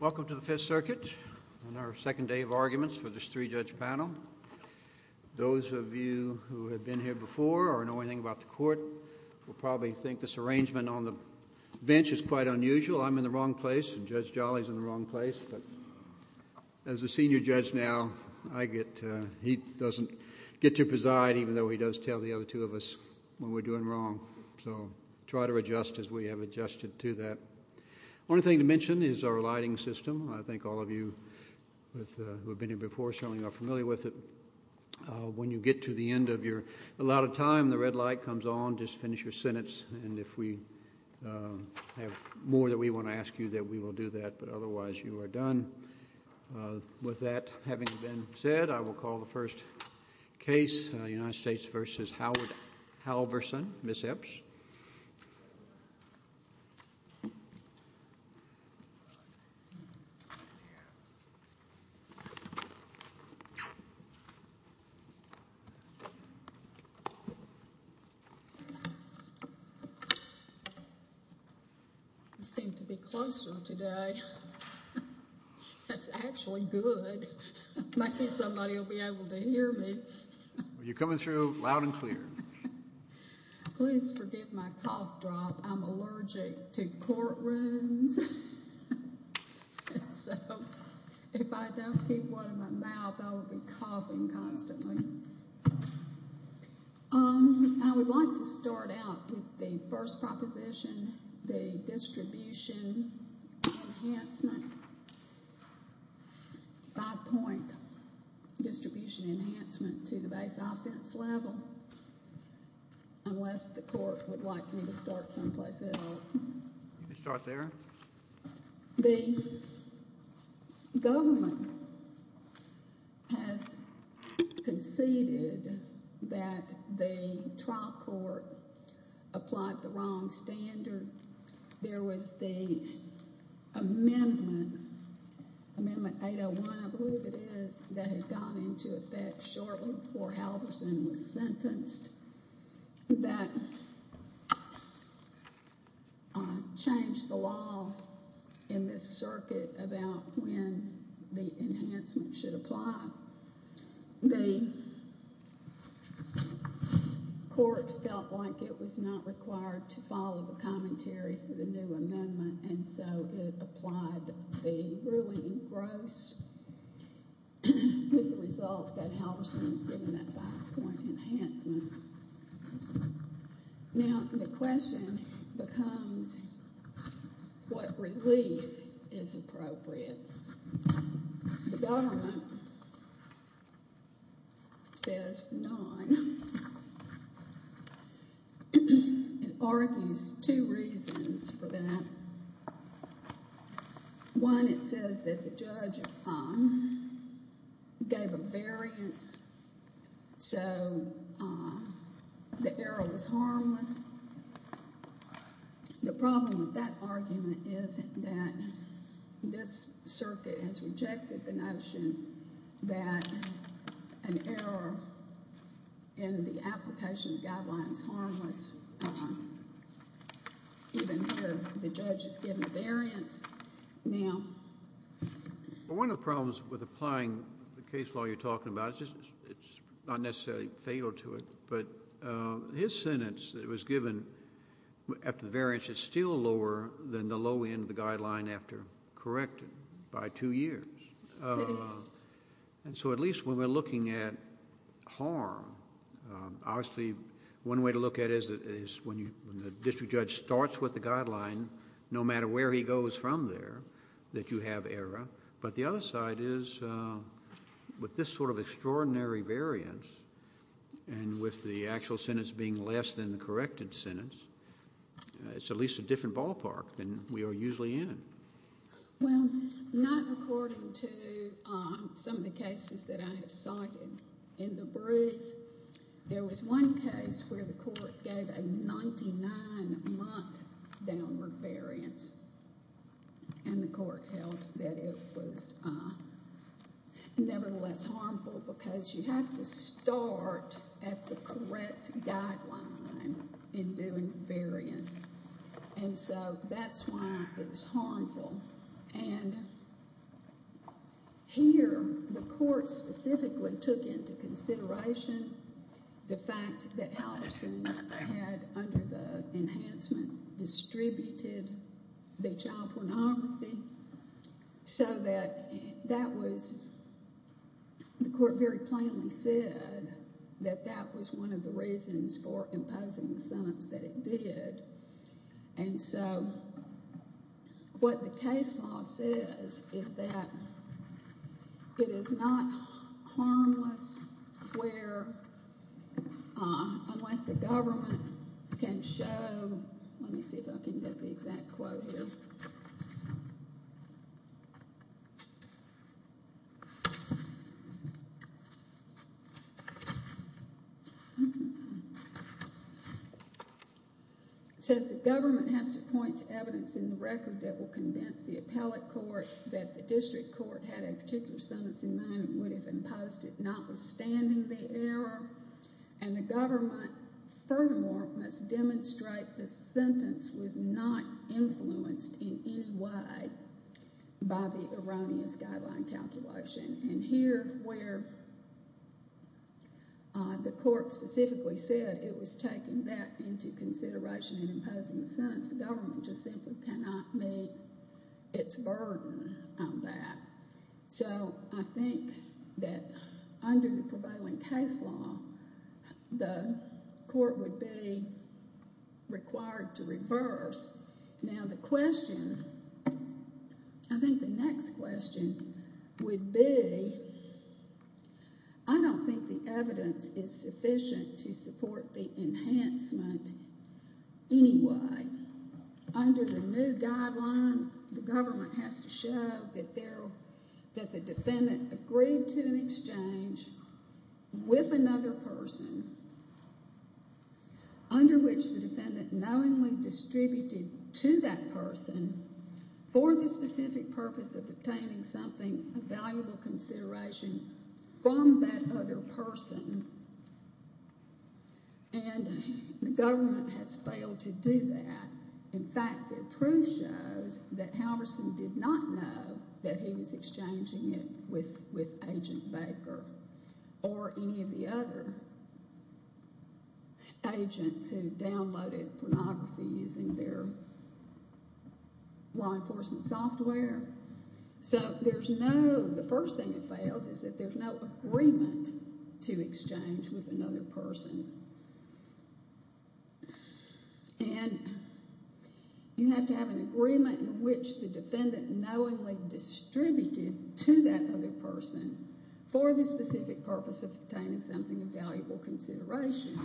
Welcome to the Fifth Circuit and our second day of arguments for this three-judge panel. Those of you who have been here before or know anything about the court will probably think this arrangement on the bench is quite unusual. I'm in the wrong place and Judge Jolly is in the wrong place. As a senior judge now, he doesn't get to preside even though he does tell the other two of us when we're doing wrong. So try to adjust as we have adjusted to that. One thing to mention is our lighting system. I think all of you who have been here before are certainly familiar with it. When you get to the end of your allotted time, the red light comes on, just finish your sentence and if we have more that we want to ask you, we will do that, but otherwise you are done. With that having been said, I will call the first case, United States v. Howard Halverson. Ms. Epps? You seem to be closer today. That's actually good. Maybe somebody will be able to hear me. You're coming through loud and clear. Please forgive my cough drop. I'm allergic to courtrooms, so if I don't keep one in my mouth, I will be coughing constantly. I would like to start out with the first proposition, the distribution enhancement, five-point distribution enhancement to the base offense level, unless the court would like me to start someplace else. You can start there. The government has conceded that the trial court applied the wrong standard. There was the amendment, Amendment 801, I believe it is, that had gone into effect shortly before Halverson was sentenced that changed the law in this circuit about when the enhancement should apply. The court felt like it was not required to follow the commentary for the new amendment, and so it applied the ruling in gross. As a result, Halverson was given that five-point enhancement. Now, the question becomes what relief is appropriate. The government says none. It argues two reasons for that. One, it says that the judge gave a variance, so the error was harmless. The problem with that argument is that this circuit has rejected the notion that an error in the application of guidelines is harmless. Even here, the judge has given a variance. Now— One of the problems with applying the case law you're talking about, it's not necessarily fatal to it, but his sentence that was given after the variance is still lower than the low end of the guideline after corrected by two years. At least when we're looking at harm, obviously one way to look at it is when the district judge starts with the guideline, no matter where he goes from there, that you have error. But the other side is with this sort of extraordinary variance and with the actual sentence being less than the corrected sentence, it's at least a different ballpark than we are usually in. Well, not according to some of the cases that I have cited. In the brief, there was one case where the court gave a 99-month downward variance, and the court held that it was nevertheless harmful because you have to start at the correct guideline in doing variance. And so that's why it was harmful. And here, the court specifically took into consideration the fact that Halverson had, under the enhancement, distributed the child pornography. So that was—the court very plainly said that that was one of the reasons for imposing the sentence that it did. And so what the case law says is that it is not harmless unless the government can show— let me see if I can get the exact quote here. It says the government has to point to evidence in the record that will convince the appellate court that the district court had a particular sentence in mind and would have imposed it notwithstanding the error. And the government, furthermore, must demonstrate the sentence was not influenced in any way by the erroneous guideline calculation. And here, where the court specifically said it was taking that into consideration and imposing the sentence, the government just simply cannot meet its burden on that. So I think that under the prevailing case law, the court would be required to reverse. Now the question—I think the next question would be, I don't think the evidence is sufficient to support the enhancement anyway. Under the new guideline, the government has to show that the defendant agreed to an exchange with another person under which the defendant knowingly distributed to that person for the specific purpose of obtaining something of valuable consideration from that other person. And the government has failed to do that. In fact, the proof shows that Halverson did not know that he was exchanging it with Agent Baker or any of the other agents who downloaded pornography using their law enforcement software. So there's no—the first thing that fails is that there's no agreement to exchange with another person. And you have to have an agreement in which the defendant knowingly distributed to that other person for the specific purpose of obtaining something of valuable consideration.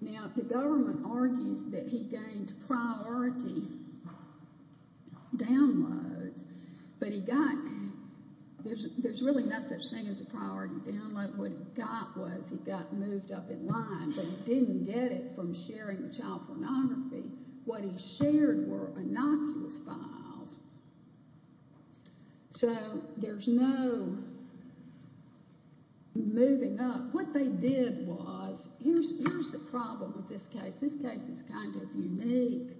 Now the government argues that he gained priority downloads, but he got— but he didn't get it from sharing the child pornography. What he shared were innocuous files. So there's no moving up. What they did was—here's the problem with this case. This case is kind of unique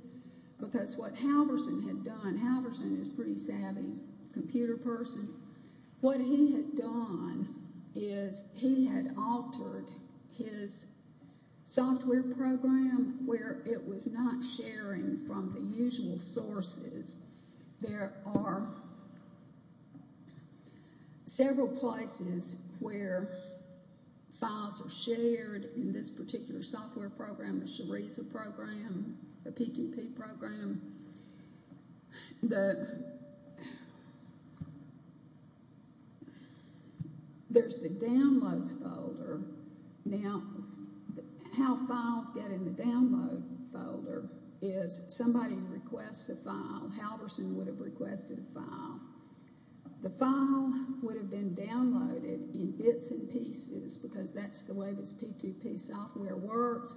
because what Halverson had done—Halverson is a pretty savvy computer person. What he had done is he had altered his software program where it was not sharing from the usual sources. There are several places where files are shared in this particular software program, the Shariza program, the PTP program. The—there's the downloads folder. Now how files get in the download folder is somebody requests a file. Halverson would have requested a file. The file would have been downloaded in bits and pieces because that's the way this PTP software works.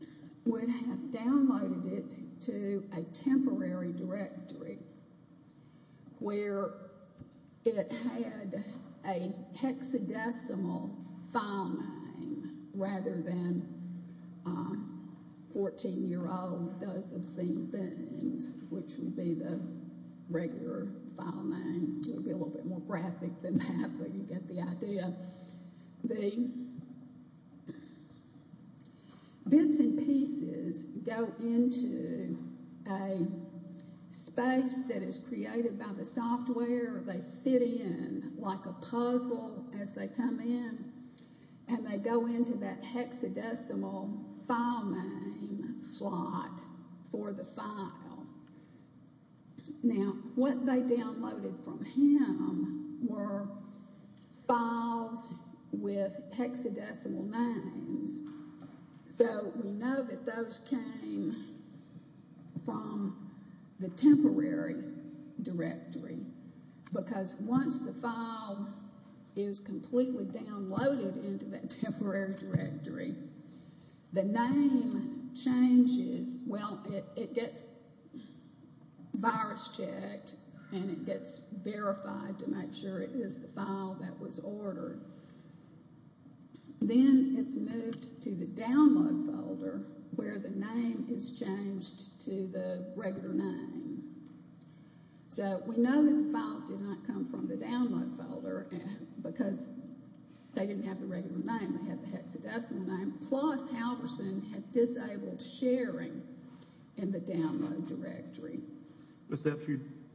He would have downloaded it to a temporary directory where it had a hexadecimal file name rather than 14-year-old does obscene things, which would be the regular file name. It would be a little bit more graphic than that, but you get the idea. The bits and pieces go into a space that is created by the software. They fit in like a puzzle as they come in, and they go into that hexadecimal file name slot for the file. Now what they downloaded from him were files with hexadecimal names, so we know that those came from the temporary directory because once the file is completely downloaded into that temporary directory, the name changes—well, it gets virus checked, and it gets verified to make sure it is the file that was ordered. Then it's moved to the download folder where the name is changed to the regular name. So we know that the files did not come from the download folder because they didn't have the regular name. They had the hexadecimal name, plus Halverson had disabled sharing in the download directory.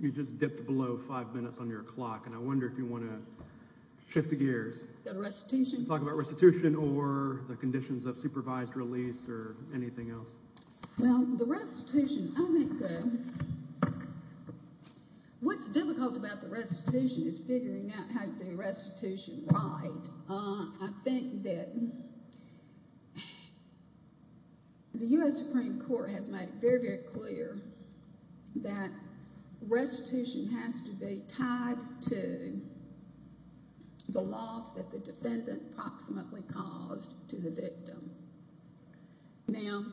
You just dipped below five minutes on your clock, and I wonder if you want to shift the gears. The restitution? Talk about restitution or the conditions of supervised release or anything else. Well, the restitution—I think what's difficult about the restitution is figuring out how to do restitution right. I think that the U.S. Supreme Court has made it very, very clear that restitution has to be tied to the loss that the defendant approximately caused to the victim. Now,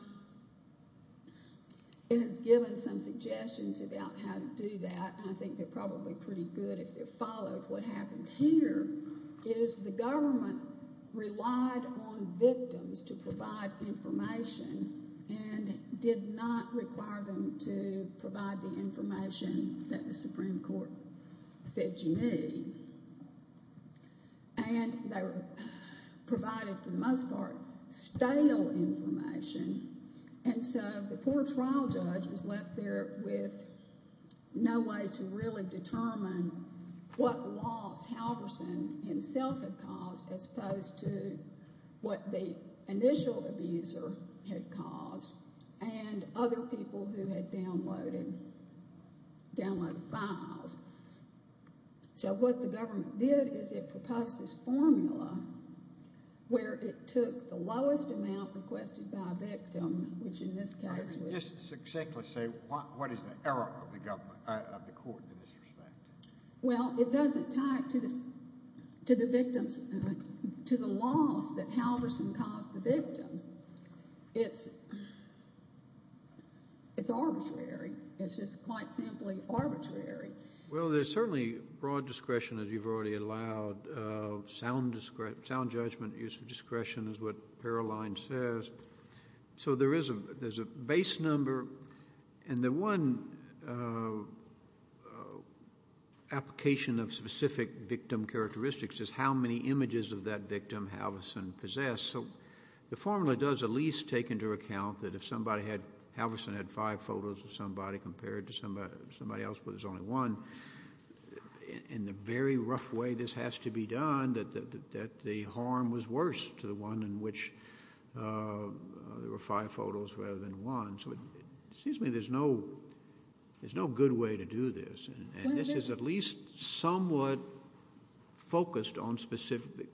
it has given some suggestions about how to do that, and I think they're probably pretty good if they're followed. What happened here is the government relied on victims to provide information and did not require them to provide the information that the Supreme Court said you need. And they provided, for the most part, stale information, and so the poor trial judge was left there with no way to really determine what loss Halverson himself had caused as opposed to what the initial abuser had caused and other people who had downloaded files. So what the government did is it proposed this formula where it took the lowest amount requested by a victim, which in this case was— Just exactly say what is the error of the court in this respect. Well, it doesn't tie to the loss that Halverson caused the victim. It's arbitrary. It's just quite simply arbitrary. Well, there's certainly broad discretion, as you've already allowed. Sound judgment, use of discretion is what Caroline says. So there's a base number, and the one application of specific victim characteristics is how many images of that victim Halverson possessed. So the formula does at least take into account that if somebody had— Halverson had five photos of somebody compared to somebody else but there's only one, in the very rough way this has to be done, that the harm was worse to the one in which there were five photos rather than one. So it seems to me there's no good way to do this, and this is at least somewhat focused on specific—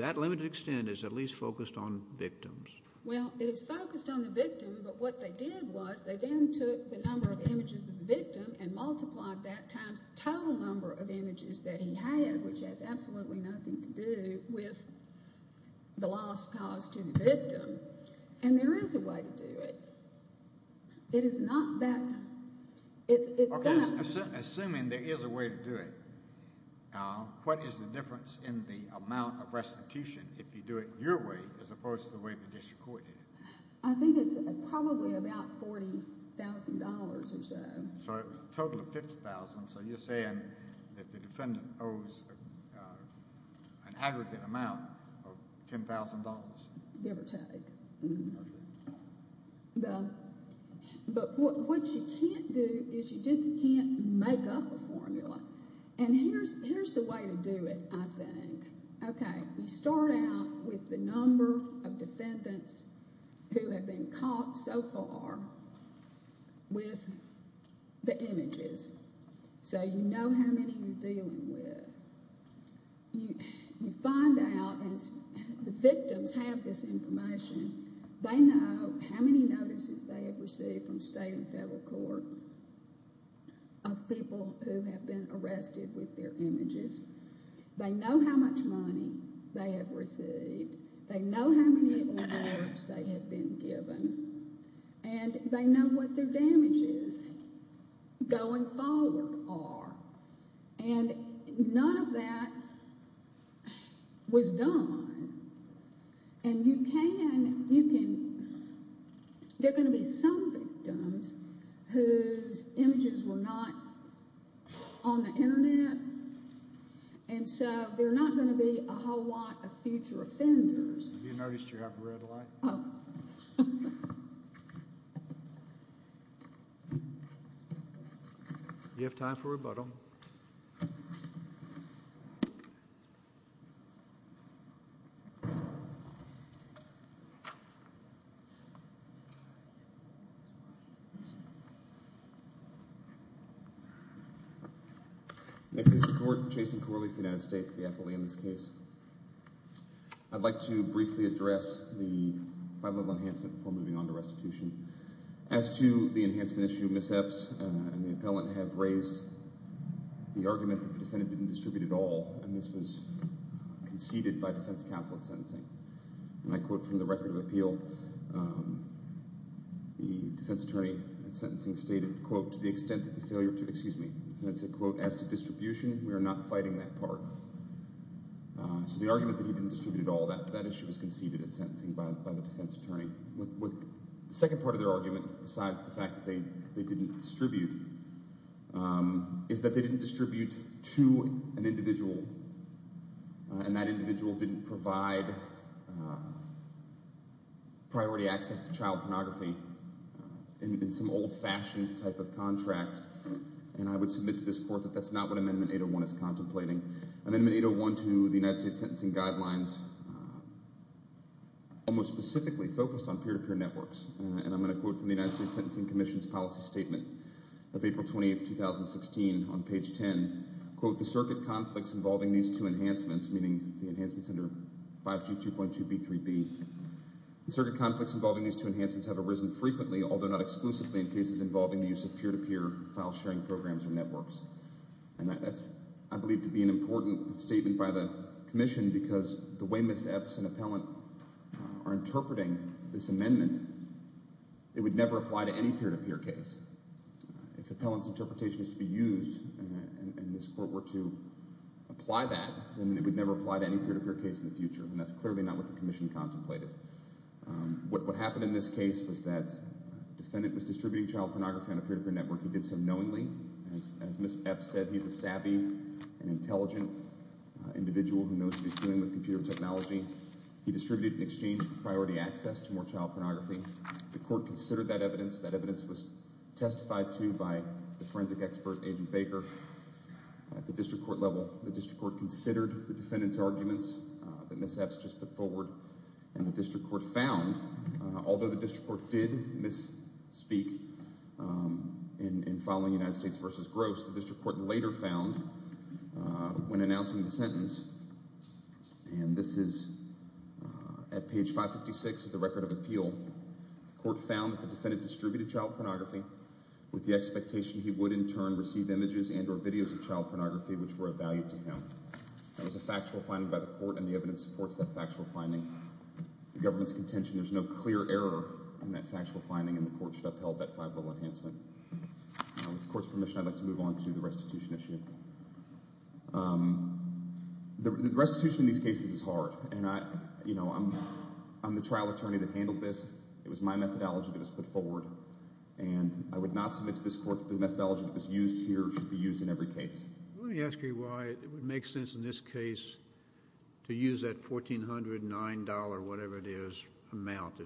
At least focused on victims. Well, it is focused on the victim, but what they did was they then took the number of images of the victim and multiplied that times the total number of images that he had, which has absolutely nothing to do with the loss caused to the victim. And there is a way to do it. It is not that— Assuming there is a way to do it, what is the difference in the amount of restitution if you do it your way as opposed to the way the district court did it? I think it's probably about $40,000 or so. So it's a total of $50,000. So you're saying that the defendant owes an aggregate amount of $10,000? Give or take. But what you can't do is you just can't make up a formula. And here's the way to do it, I think. Okay, you start out with the number of defendants who have been caught so far with the images. So you know how many you're dealing with. You find out—and the victims have this information. They know how many notices they have received from state and federal court of people who have been arrested with their images. They know how much money they have received. They know how many awards they have been given. And they know what their damages going forward are. And none of that was done. And you can—there are going to be some victims whose images were not on the Internet. And so there are not going to be a whole lot of future offenders. Have you noticed you have a red light? You have time for rebuttal. In the case of the court, Jason Corley of the United States, the affiliate in this case. I'd like to briefly address the five-level enhancement before moving on to restitution. As to the enhancement issue, Ms. Epps and the appellant have raised the argument that the defendant didn't distribute at all, and this was conceded by defense counsel at sentencing. And I quote from the record of appeal, the defense attorney at sentencing stated, quote, to the extent that the failure to—excuse me, that's a quote. As to distribution, we are not fighting that part. So the argument that he didn't distribute at all, that issue was conceded at sentencing by the defense attorney. The second part of their argument, besides the fact that they didn't distribute, is that they didn't distribute to an individual, and that individual didn't provide priority access to child pornography in some old-fashioned type of contract. And I would submit to this court that that's not what Amendment 801 is contemplating. Amendment 801 to the United States Sentencing Guidelines almost specifically focused on peer-to-peer networks, and I'm going to quote from the United States Sentencing Commission's policy statement of April 28, 2016, on page 10. Quote, the circuit conflicts involving these two enhancements, meaning the enhancements under 5G 2.2b3b, the circuit conflicts involving these two enhancements have arisen frequently, although not exclusively in cases involving the use of peer-to-peer file-sharing programs or networks. And that's, I believe, to be an important statement by the commission because the way Ms. Epps and Appellant are interpreting this amendment, it would never apply to any peer-to-peer case. If Appellant's interpretation is to be used and this court were to apply that, then it would never apply to any peer-to-peer case in the future, and that's clearly not what the commission contemplated. What happened in this case was that the defendant was distributing child pornography on a peer-to-peer network. He did so knowingly. As Ms. Epps said, he's a savvy and intelligent individual who knows what he's doing with computer technology. He distributed in exchange for priority access to more child pornography. The court considered that evidence. That evidence was testified to by the forensic expert, Agent Baker, at the district court level. The district court considered the defendant's arguments that Ms. Epps just put forward, and the district court found, although the district court did misspeak in filing United States v. Gross, the district court later found when announcing the sentence, and this is at page 556 of the Record of Appeal, the court found that the defendant distributed child pornography with the expectation he would in turn receive images and or videos of child pornography which were of value to him. That was a factual finding by the court, and the evidence supports that factual finding. It's the government's contention. There's no clear error in that factual finding, and the court should upheld that five-level enhancement. With the court's permission, I'd like to move on to the restitution issue. The restitution in these cases is hard, and I'm the trial attorney that handled this. It was my methodology that was put forward, and I would not submit to this court that the methodology that was used here should be used in every case. Let me ask you why it would make sense in this case to use that $1,409, whatever it is, amount.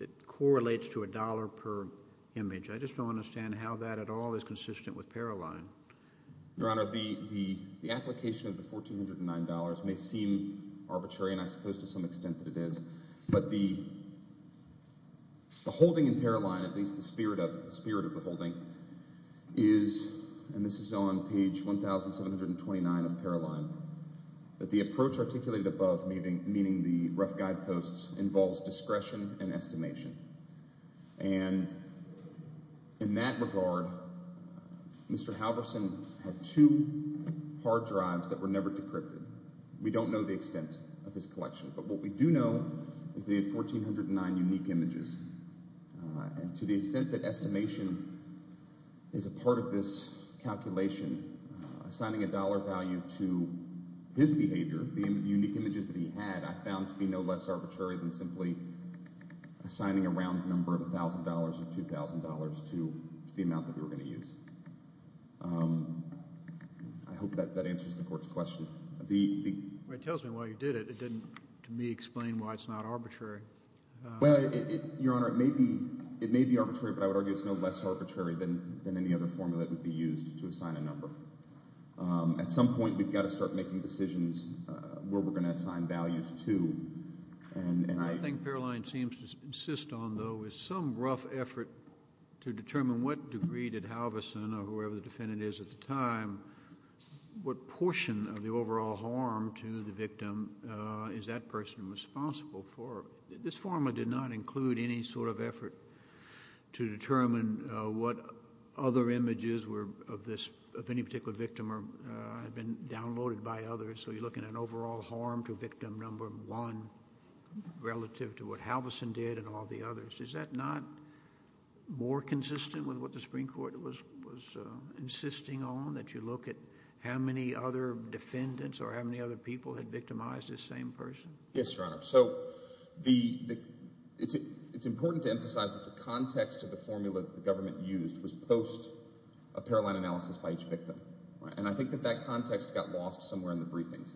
It correlates to a dollar per image. I just don't understand how that at all is consistent with Paroline. Your Honor, the application of the $1,409 may seem arbitrary, and I suppose to some extent that it is, but the holding in Paroline, at least the spirit of the holding, is, and this is on page 1729 of Paroline, that the approach articulated above, meaning the rough guideposts, involves discretion and estimation. And in that regard, Mr. Halverson had two hard drives that were never decrypted. We don't know the extent of his collection, but what we do know is that he had 1,409 unique images. And to the extent that estimation is a part of this calculation, assigning a dollar value to his behavior, the unique images that he had, I found to be no less arbitrary than simply assigning a round number of $1,000 or $2,000 to the amount that we were going to use. I hope that answers the Court's question. It tells me why you did it. It didn't, to me, explain why it's not arbitrary. Well, Your Honor, it may be arbitrary, but I would argue it's no less arbitrary than any other formula that would be used to assign a number. At some point, we've got to start making decisions where we're going to assign values to. And I think Paroline seems to insist on, though, is some rough effort to determine what degree did Halverson, or whoever the defendant is at the time, what portion of the overall harm to the victim is that person responsible for. This formula did not include any sort of effort to determine what other images were of this, of any particular victim had been downloaded by others. So you're looking at overall harm to victim number one relative to what Halverson did and all the others. Is that not more consistent with what the Supreme Court was insisting on, that you look at how many other defendants or how many other people had victimized this same person? Yes, Your Honor. So it's important to emphasize that the context of the formula that the government used was post a Paroline analysis by each victim. And I think that that context got lost somewhere in the briefings.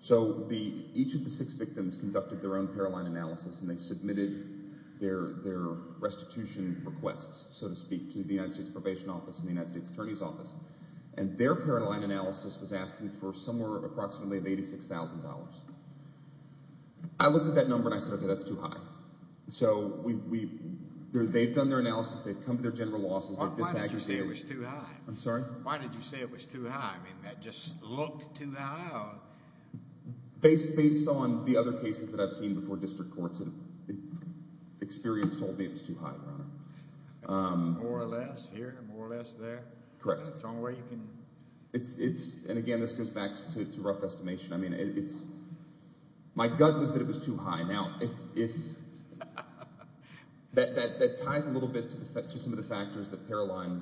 So each of the six victims conducted their own Paroline analysis, and they submitted their restitution requests, so to speak, to the United States Probation Office and the United States Attorney's Office. And their Paroline analysis was asking for somewhere approximately of $86,000. I looked at that number and I said, okay, that's too high. So they've done their analysis. They've come to their general losses. Why did you say it was too high? I'm sorry? Why did you say it was too high? I mean that just looked too high. Based on the other cases that I've seen before district courts, experience told me it was too high, Your Honor. More or less here, more or less there? Correct. That's the only way you can— It's—and again, this goes back to rough estimation. I mean it's—my gut was that it was too high. Now if—that ties a little bit to some of the factors that Paroline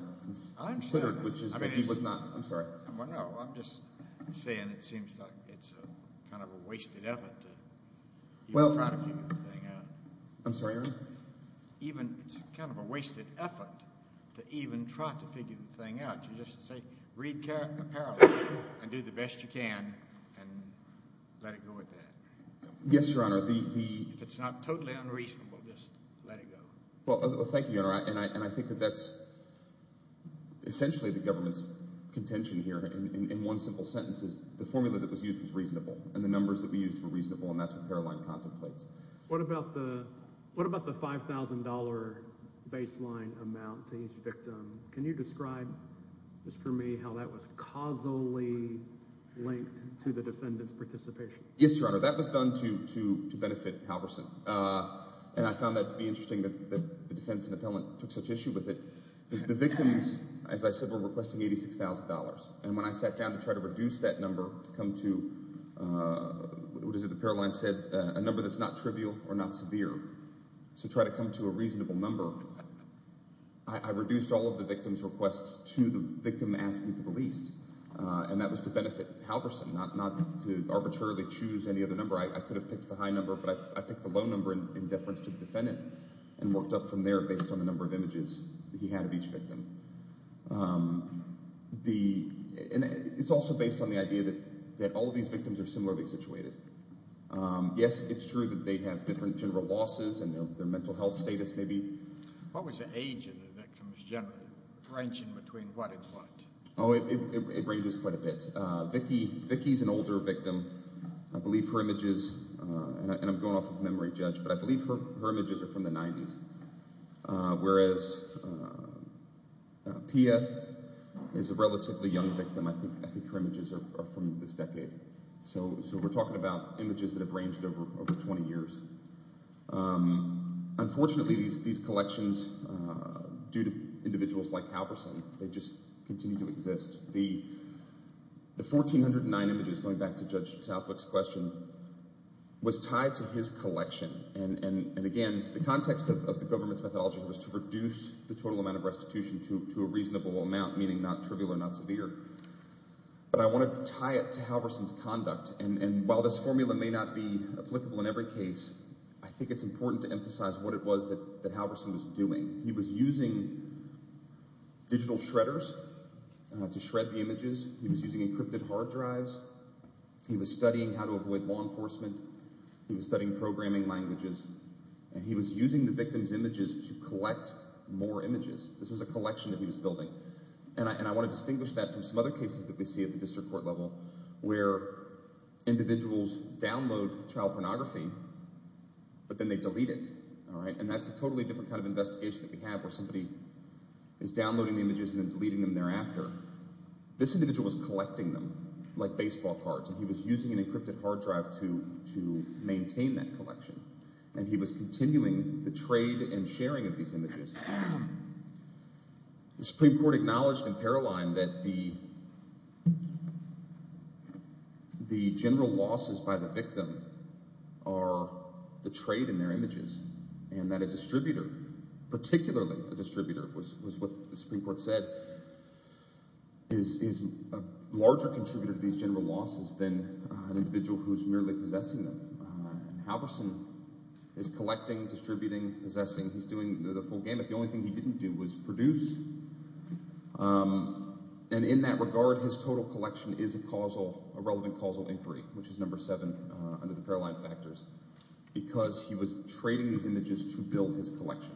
considered, which is— He was not—I'm sorry. No, I'm just saying it seems like it's kind of a wasted effort to even try to figure the thing out. I'm sorry, Your Honor? Even—it's kind of a wasted effort to even try to figure the thing out. You just say read Paroline and do the best you can and let it go at that. Yes, Your Honor. If it's not totally unreasonable, just let it go. Well, thank you, Your Honor, and I think that that's essentially the government's contention here. In one simple sentence is the formula that was used was reasonable, and the numbers that we used were reasonable, and that's what Paroline contemplates. What about the $5,000 baseline amount to each victim? Can you describe just for me how that was causally linked to the defendant's participation? Yes, Your Honor. That was done to benefit Halverson. And I found that to be interesting that the defense and the appellant took such issue with it. The victims, as I said, were requesting $86,000. And when I sat down to try to reduce that number to come to—what is it that Paroline said? A number that's not trivial or not severe, so try to come to a reasonable number. I reduced all of the victims' requests to the victim asking for the least, and that was to benefit Halverson, not to arbitrarily choose any other number. I could have picked the high number, but I picked the low number in deference to the defendant and worked up from there based on the number of images he had of each victim. And it's also based on the idea that all of these victims are similarly situated. Yes, it's true that they have different general losses and their mental health status may be— What was the age of the victims generally, branching between what and what? Oh, it ranges quite a bit. Vicki's an older victim. I believe her images—and I'm going off of memory, Judge—but I believe her images are from the 90s, whereas Pia is a relatively young victim. I think her images are from this decade. So we're talking about images that have ranged over 20 years. Unfortunately, these collections, due to individuals like Halverson, they just continue to exist. The 1,409 images, going back to Judge Southwick's question, was tied to his collection. And again, the context of the government's methodology was to reduce the total amount of restitution to a reasonable amount, meaning not trivial or not severe. But I wanted to tie it to Halverson's conduct, and while this formula may not be applicable in every case, I think it's important to emphasize what it was that Halverson was doing. He was using digital shredders to shred the images. He was using encrypted hard drives. He was studying how to avoid law enforcement. He was studying programming languages. And he was using the victims' images to collect more images. This was a collection that he was building. And I want to distinguish that from some other cases that we see at the district court level, where individuals download child pornography, but then they delete it. And that's a totally different kind of investigation that we have, where somebody is downloading the images and then deleting them thereafter. This individual was collecting them like baseball cards, and he was using an encrypted hard drive to maintain that collection. And he was continuing the trade and sharing of these images. The Supreme Court acknowledged in Caroline that the general losses by the victim are the trade in their images, and that a distributor, particularly a distributor, was what the Supreme Court said, is a larger contributor to these general losses than an individual who is merely possessing them. Halverson is collecting, distributing, possessing. He says he's doing the full gamut. The only thing he didn't do was produce. And in that regard, his total collection is a causal, a relevant causal inquiry, which is number seven under the Caroline factors, because he was trading these images to build his collection.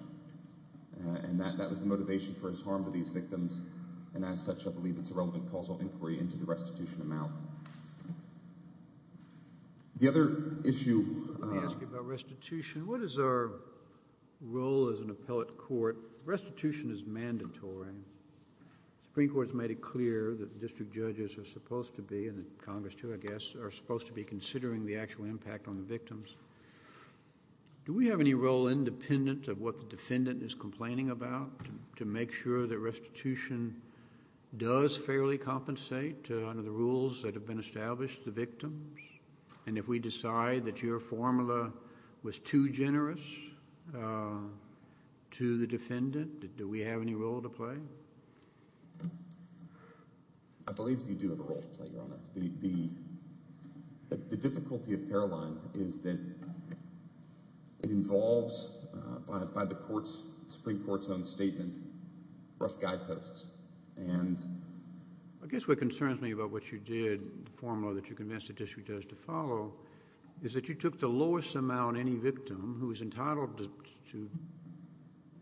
And that was the motivation for his harm to these victims. And as such, I believe it's a relevant causal inquiry into the restitution amount. The other issue. Let me ask you about restitution. What is our role as an appellate court? Restitution is mandatory. The Supreme Court has made it clear that district judges are supposed to be, and Congress too, I guess, are supposed to be considering the actual impact on the victims. Do we have any role independent of what the defendant is complaining about to make sure that restitution does fairly compensate under the rules that have been established to the victims? And if we decide that your formula was too generous to the defendant, do we have any role to play? I believe we do have a role to play, Your Honor. The difficulty of Caroline is that it involves, by the Supreme Court's own statement, rough guideposts. I guess what concerns me about what you did, the formula that you convinced the district judges to follow, is that you took the lowest amount any victim who is entitled to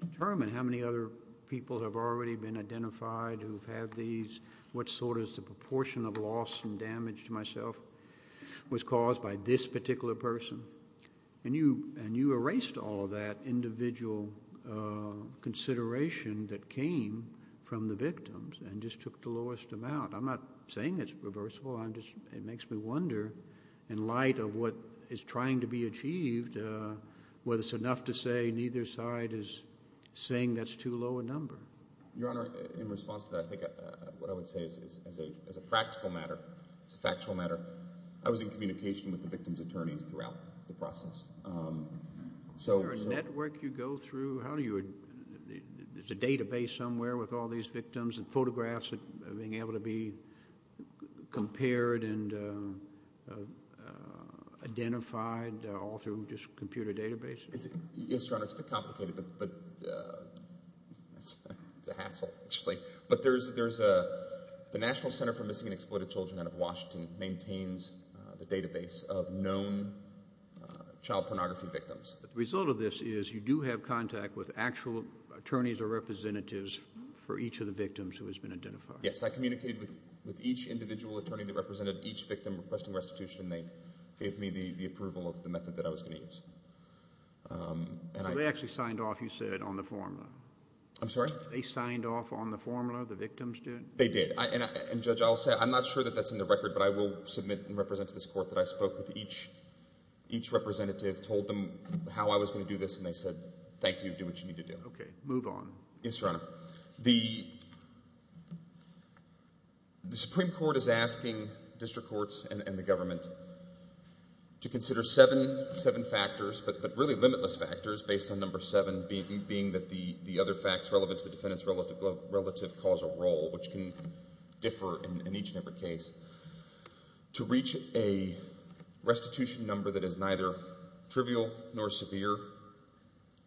determine how many other people have already been identified who have had these, what sort of proportion of loss and damage to myself was caused by this particular person, and you erased all of that individual consideration that came from the victims and just took the lowest amount. I'm not saying it's reversible. It makes me wonder, in light of what is trying to be achieved, whether it's enough to say neither side is saying that's too low a number. Your Honor, in response to that, I think what I would say is as a practical matter, as a factual matter, I was in communication with the victims' attorneys throughout the process. Is there a network you go through? Is there a database somewhere with all these victims and photographs that are being able to be compared and identified all through just computer databases? Yes, Your Honor, it's a bit complicated, but it's a hassle, actually. The National Center for Missing and Exploited Children out of Washington maintains the database of known child pornography victims. The result of this is you do have contact with actual attorneys or representatives for each of the victims who has been identified. Yes, I communicated with each individual attorney that represented each victim requesting restitution. They gave me the approval of the method that I was going to use. They actually signed off, you said, on the formula. I'm sorry? They signed off on the formula. The victims did? They did. And, Judge, I'll say I'm not sure that that's in the record, but I will submit and represent to this court that I spoke with. Each representative told them how I was going to do this, and they said, Thank you. Do what you need to do. Okay. Move on. Yes, Your Honor. The Supreme Court is asking district courts and the government to consider seven factors, but really limitless factors based on number seven, being that the other facts relevant to the defendant's relative causal role, which can differ in each and every case, to reach a restitution number that is neither trivial nor severe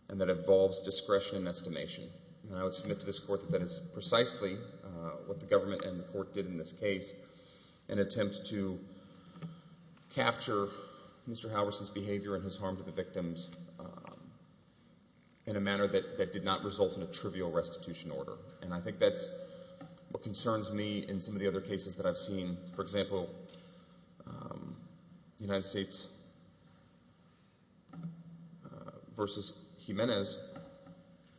and that involves discretion and estimation. I would submit to this court that that is precisely what the government and the court did in this case, an attempt to capture Mr. Halverson's behavior and his harm to the victims in a manner that did not result in a trivial restitution order, and I think that's what concerns me in some of the other cases that I've seen. For example, the United States versus Jimenez,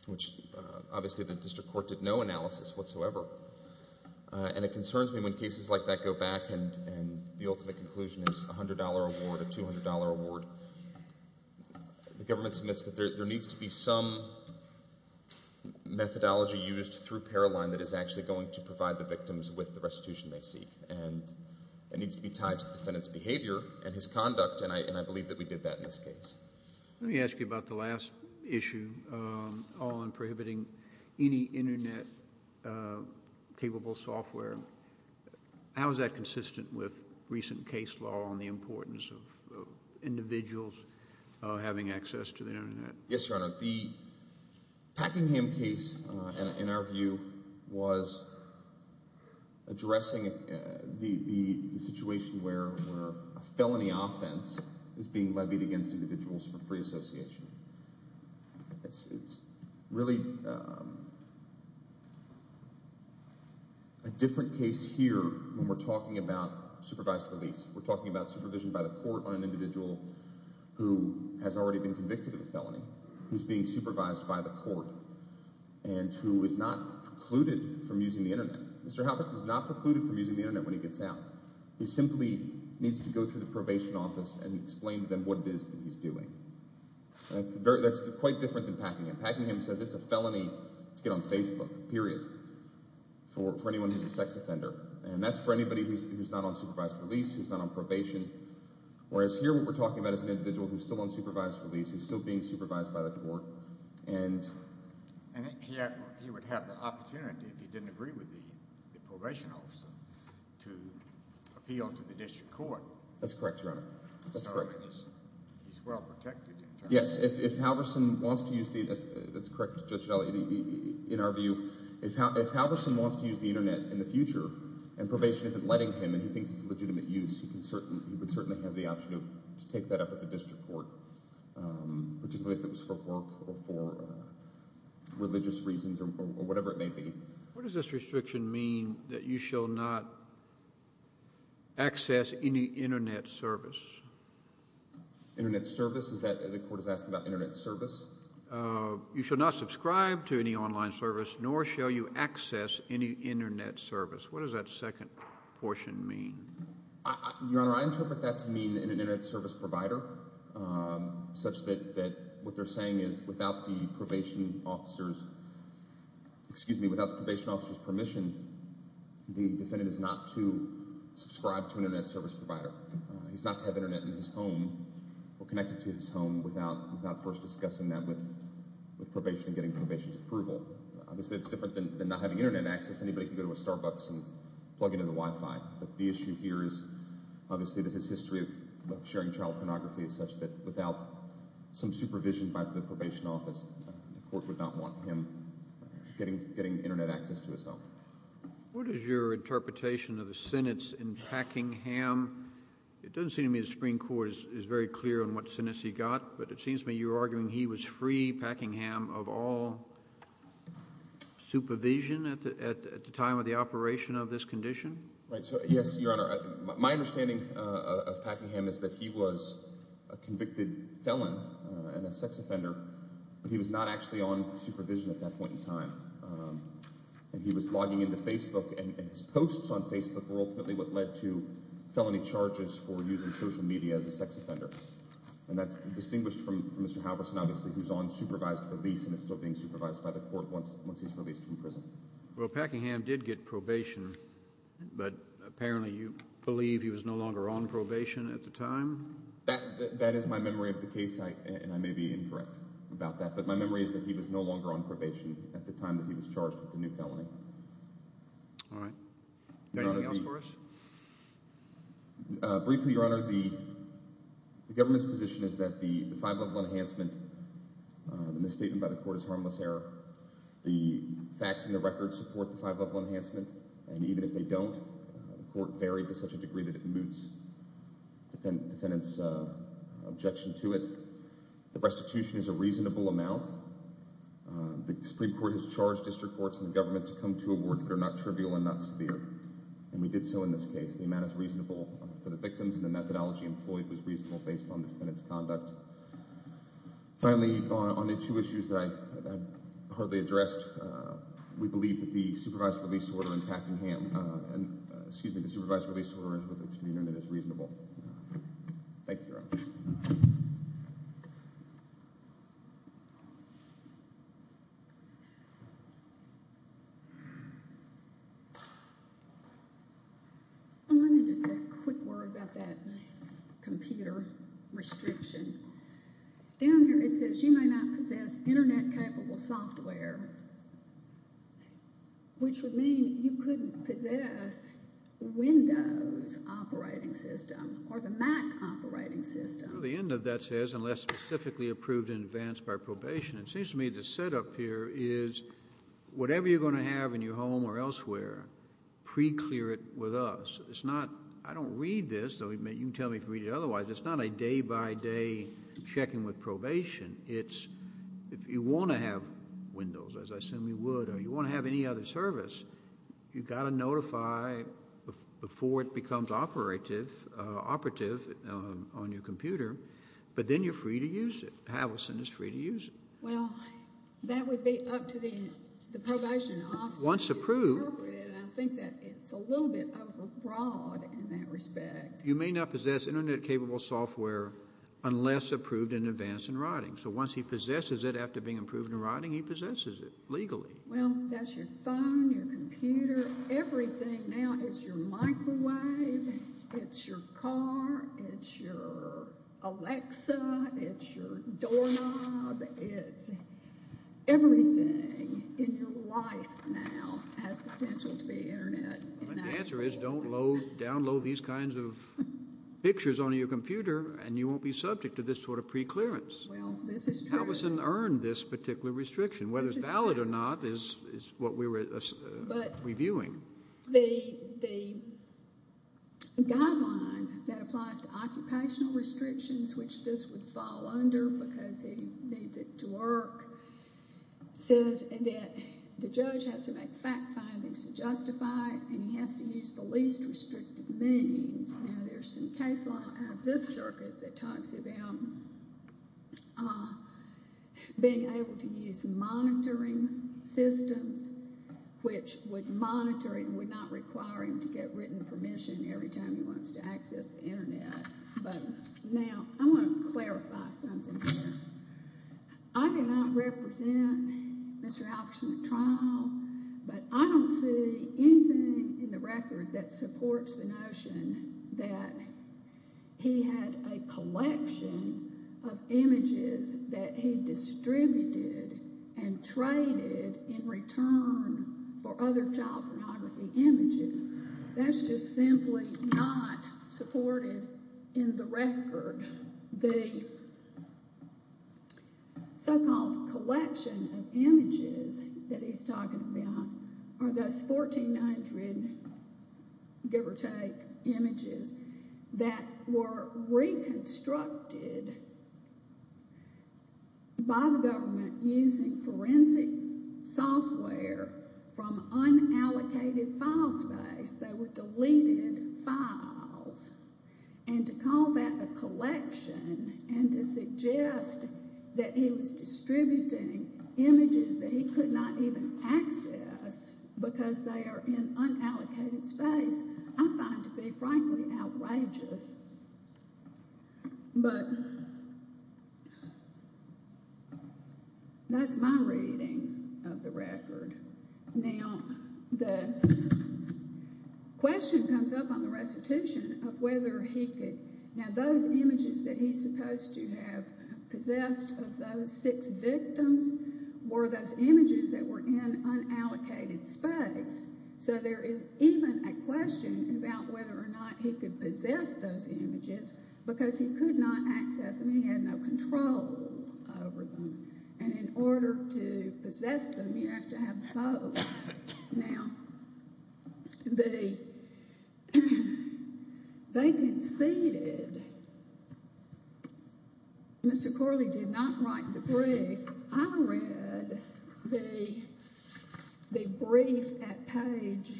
which obviously the district court did no analysis whatsoever, and it concerns me when cases like that go back and the ultimate conclusion is a $100 award, a $200 award. The government submits that there needs to be some methodology used through Paraline that is actually going to provide the victims with the restitution they seek, and it needs to be tied to the defendant's behavior and his conduct, and I believe that we did that in this case. Let me ask you about the last issue on prohibiting any Internet-capable software. How is that consistent with recent case law and the importance of individuals having access to the Internet? Yes, Your Honor. The Packingham case, in our view, was addressing the situation where a felony offense is being levied against individuals for free association. It's really a different case here when we're talking about supervised release. We're talking about supervision by the court on an individual who has already been convicted of a felony, who's being supervised by the court, and who is not precluded from using the Internet. Mr. Halpas is not precluded from using the Internet when he gets out. He simply needs to go through the probation office and explain to them what it is that he's doing. That's quite different than Packingham. Packingham says it's a felony to get on Facebook, period, for anyone who's a sex offender, and that's for anybody who's not on supervised release, who's not on probation, whereas here what we're talking about is an individual who's still on supervised release, who's still being supervised by the court. And he would have the opportunity, if he didn't agree with the probation officer, to appeal to the district court. That's correct, Your Honor. That's correct. He's well-protected. Yes, if Halverson wants to use the Internet, that's correct, Judge Shelley, in our view, if Halverson wants to use the Internet in the future and probation isn't letting him and he thinks it's a legitimate use, he would certainly have the option to take that up at the district court, particularly if it was for work or for religious reasons or whatever it may be. What does this restriction mean that you shall not access any Internet service? Internet service? The court is asking about Internet service? You shall not subscribe to any online service, nor shall you access any Internet service. What does that second portion mean? Your Honor, I interpret that to mean an Internet service provider, such that what they're saying is without the probation officers, excuse me, without the probation officer's permission, the defendant is not to subscribe to an Internet service provider. He's not to have Internet in his home or connected to his home without first discussing that with probation and getting probation's approval. Obviously, it's different than not having Internet access. Anybody can go to a Starbucks and plug into the Wi-Fi. But the issue here is obviously that his history of sharing child pornography is such that without some supervision by the probation office, the court would not want him getting Internet access to his home. What is your interpretation of the sentence in Packingham? It doesn't seem to me the Supreme Court is very clear on what sentence he got, but it seems to me you're arguing he was free, Packingham, of all supervision at the time of the operation of this condition. Yes, Your Honor. My understanding of Packingham is that he was a convicted felon and a sex offender. But he was not actually on supervision at that point in time. And he was logging into Facebook, and his posts on Facebook were ultimately what led to felony charges for using social media as a sex offender. And that's distinguished from Mr. Halverson, obviously, who's on supervised release and is still being supervised by the court once he's released from prison. Well, Packingham did get probation, but apparently you believe he was no longer on probation at the time? That is my memory of the case, and I may be incorrect about that. But my memory is that he was no longer on probation at the time that he was charged with the new felony. All right. Anything else for us? Briefly, Your Honor, the government's position is that the five-level enhancement and the statement by the court is harmless error. The facts and the records support the five-level enhancement. And even if they don't, the court varied to such a degree that it moots the defendant's objection to it. The restitution is a reasonable amount. The Supreme Court has charged district courts and the government to come to a word that they're not trivial and not severe. And we did so in this case. The amount is reasonable for the victims, and the methodology employed was reasonable based on the defendant's conduct. Finally, on the two issues that I hardly addressed, we believe that the supervised release order in Packingham is reasonable. Thank you, Your Honor. Let me just say a quick word about that computer restriction. Down here it says you may not possess Internet-capable software, which would mean you couldn't possess Windows operating system or the Mac operating system. The end of that says unless specifically approved in advance by probation. It seems to me the setup here is whatever you're going to have in your home or elsewhere, pre-clear it with us. I don't read this, though you can tell me if you read it otherwise. It's not a day-by-day checking with probation. It's if you want to have Windows, as I assume you would, or you want to have any other service, you've got to notify before it becomes operative on your computer, but then you're free to use it. Havilson is free to use it. Well, that would be up to the probation officer. Once approved. And I think that it's a little bit overbroad in that respect. You may not possess Internet-capable software unless approved in advance in writing. So once he possesses it after being approved in writing, he possesses it legally. Well, that's your phone, your computer, everything now is your microwave, it's your car, it's your Alexa, it's your doorknob, it's everything in your life now has potential to be Internet. The answer is don't download these kinds of pictures onto your computer and you won't be subject to this sort of preclearance. Well, this is true. Havilson earned this particular restriction. Whether it's valid or not is what we're reviewing. But the guideline that applies to occupational restrictions, which this would fall under because he needs it to work, says that the judge has to make fact findings to justify and he has to use the least restrictive means. Now, there's some case law out of this circuit that talks about being able to use monitoring systems, which would monitor and would not require him to get written permission every time he wants to access the Internet. Now, I want to clarify something here. I do not represent Mr. Havilson at trial, but I don't see anything in the record that supports the notion that he had a collection of images that he distributed and traded in return for other child pornography images. That's just simply not supported in the record. The so-called collection of images that he's talking about are those 1,400, give or take, images that were reconstructed by the government using forensic software from unallocated file space. They were deleted files. And to call that a collection and to suggest that he was distributing images that he could not even access because they are in unallocated space, I find to be, frankly, outrageous. But that's my reading of the record. Now, the question comes up on the restitution of whether he could. Now, those images that he's supposed to have possessed of those six victims were those images that were in unallocated space. So there is even a question about whether or not he could possess those images because he could not access them. He had no control over them. And in order to possess them, you have to have both. Now, they conceded. Mr. Corley did not write the brief. I read the brief at page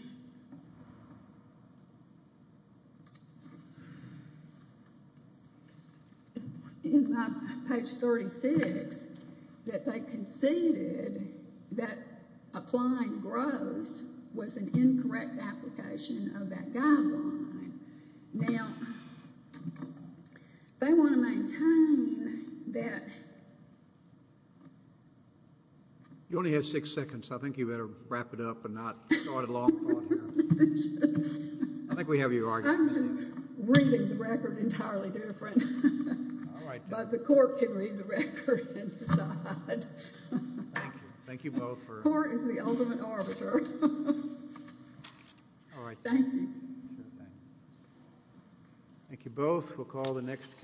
36 that they conceded that applying gross was an incorrect application of that guideline. Now, they want to maintain that. You only have six seconds. I think you better wrap it up and not start a long thought here. I think we have your argument. I'm just reading the record entirely different. All right. But the court can read the record inside. Thank you. Thank you both. The court is the ultimate arbiter. All right. Thank you. Thank you both. We'll call the next case.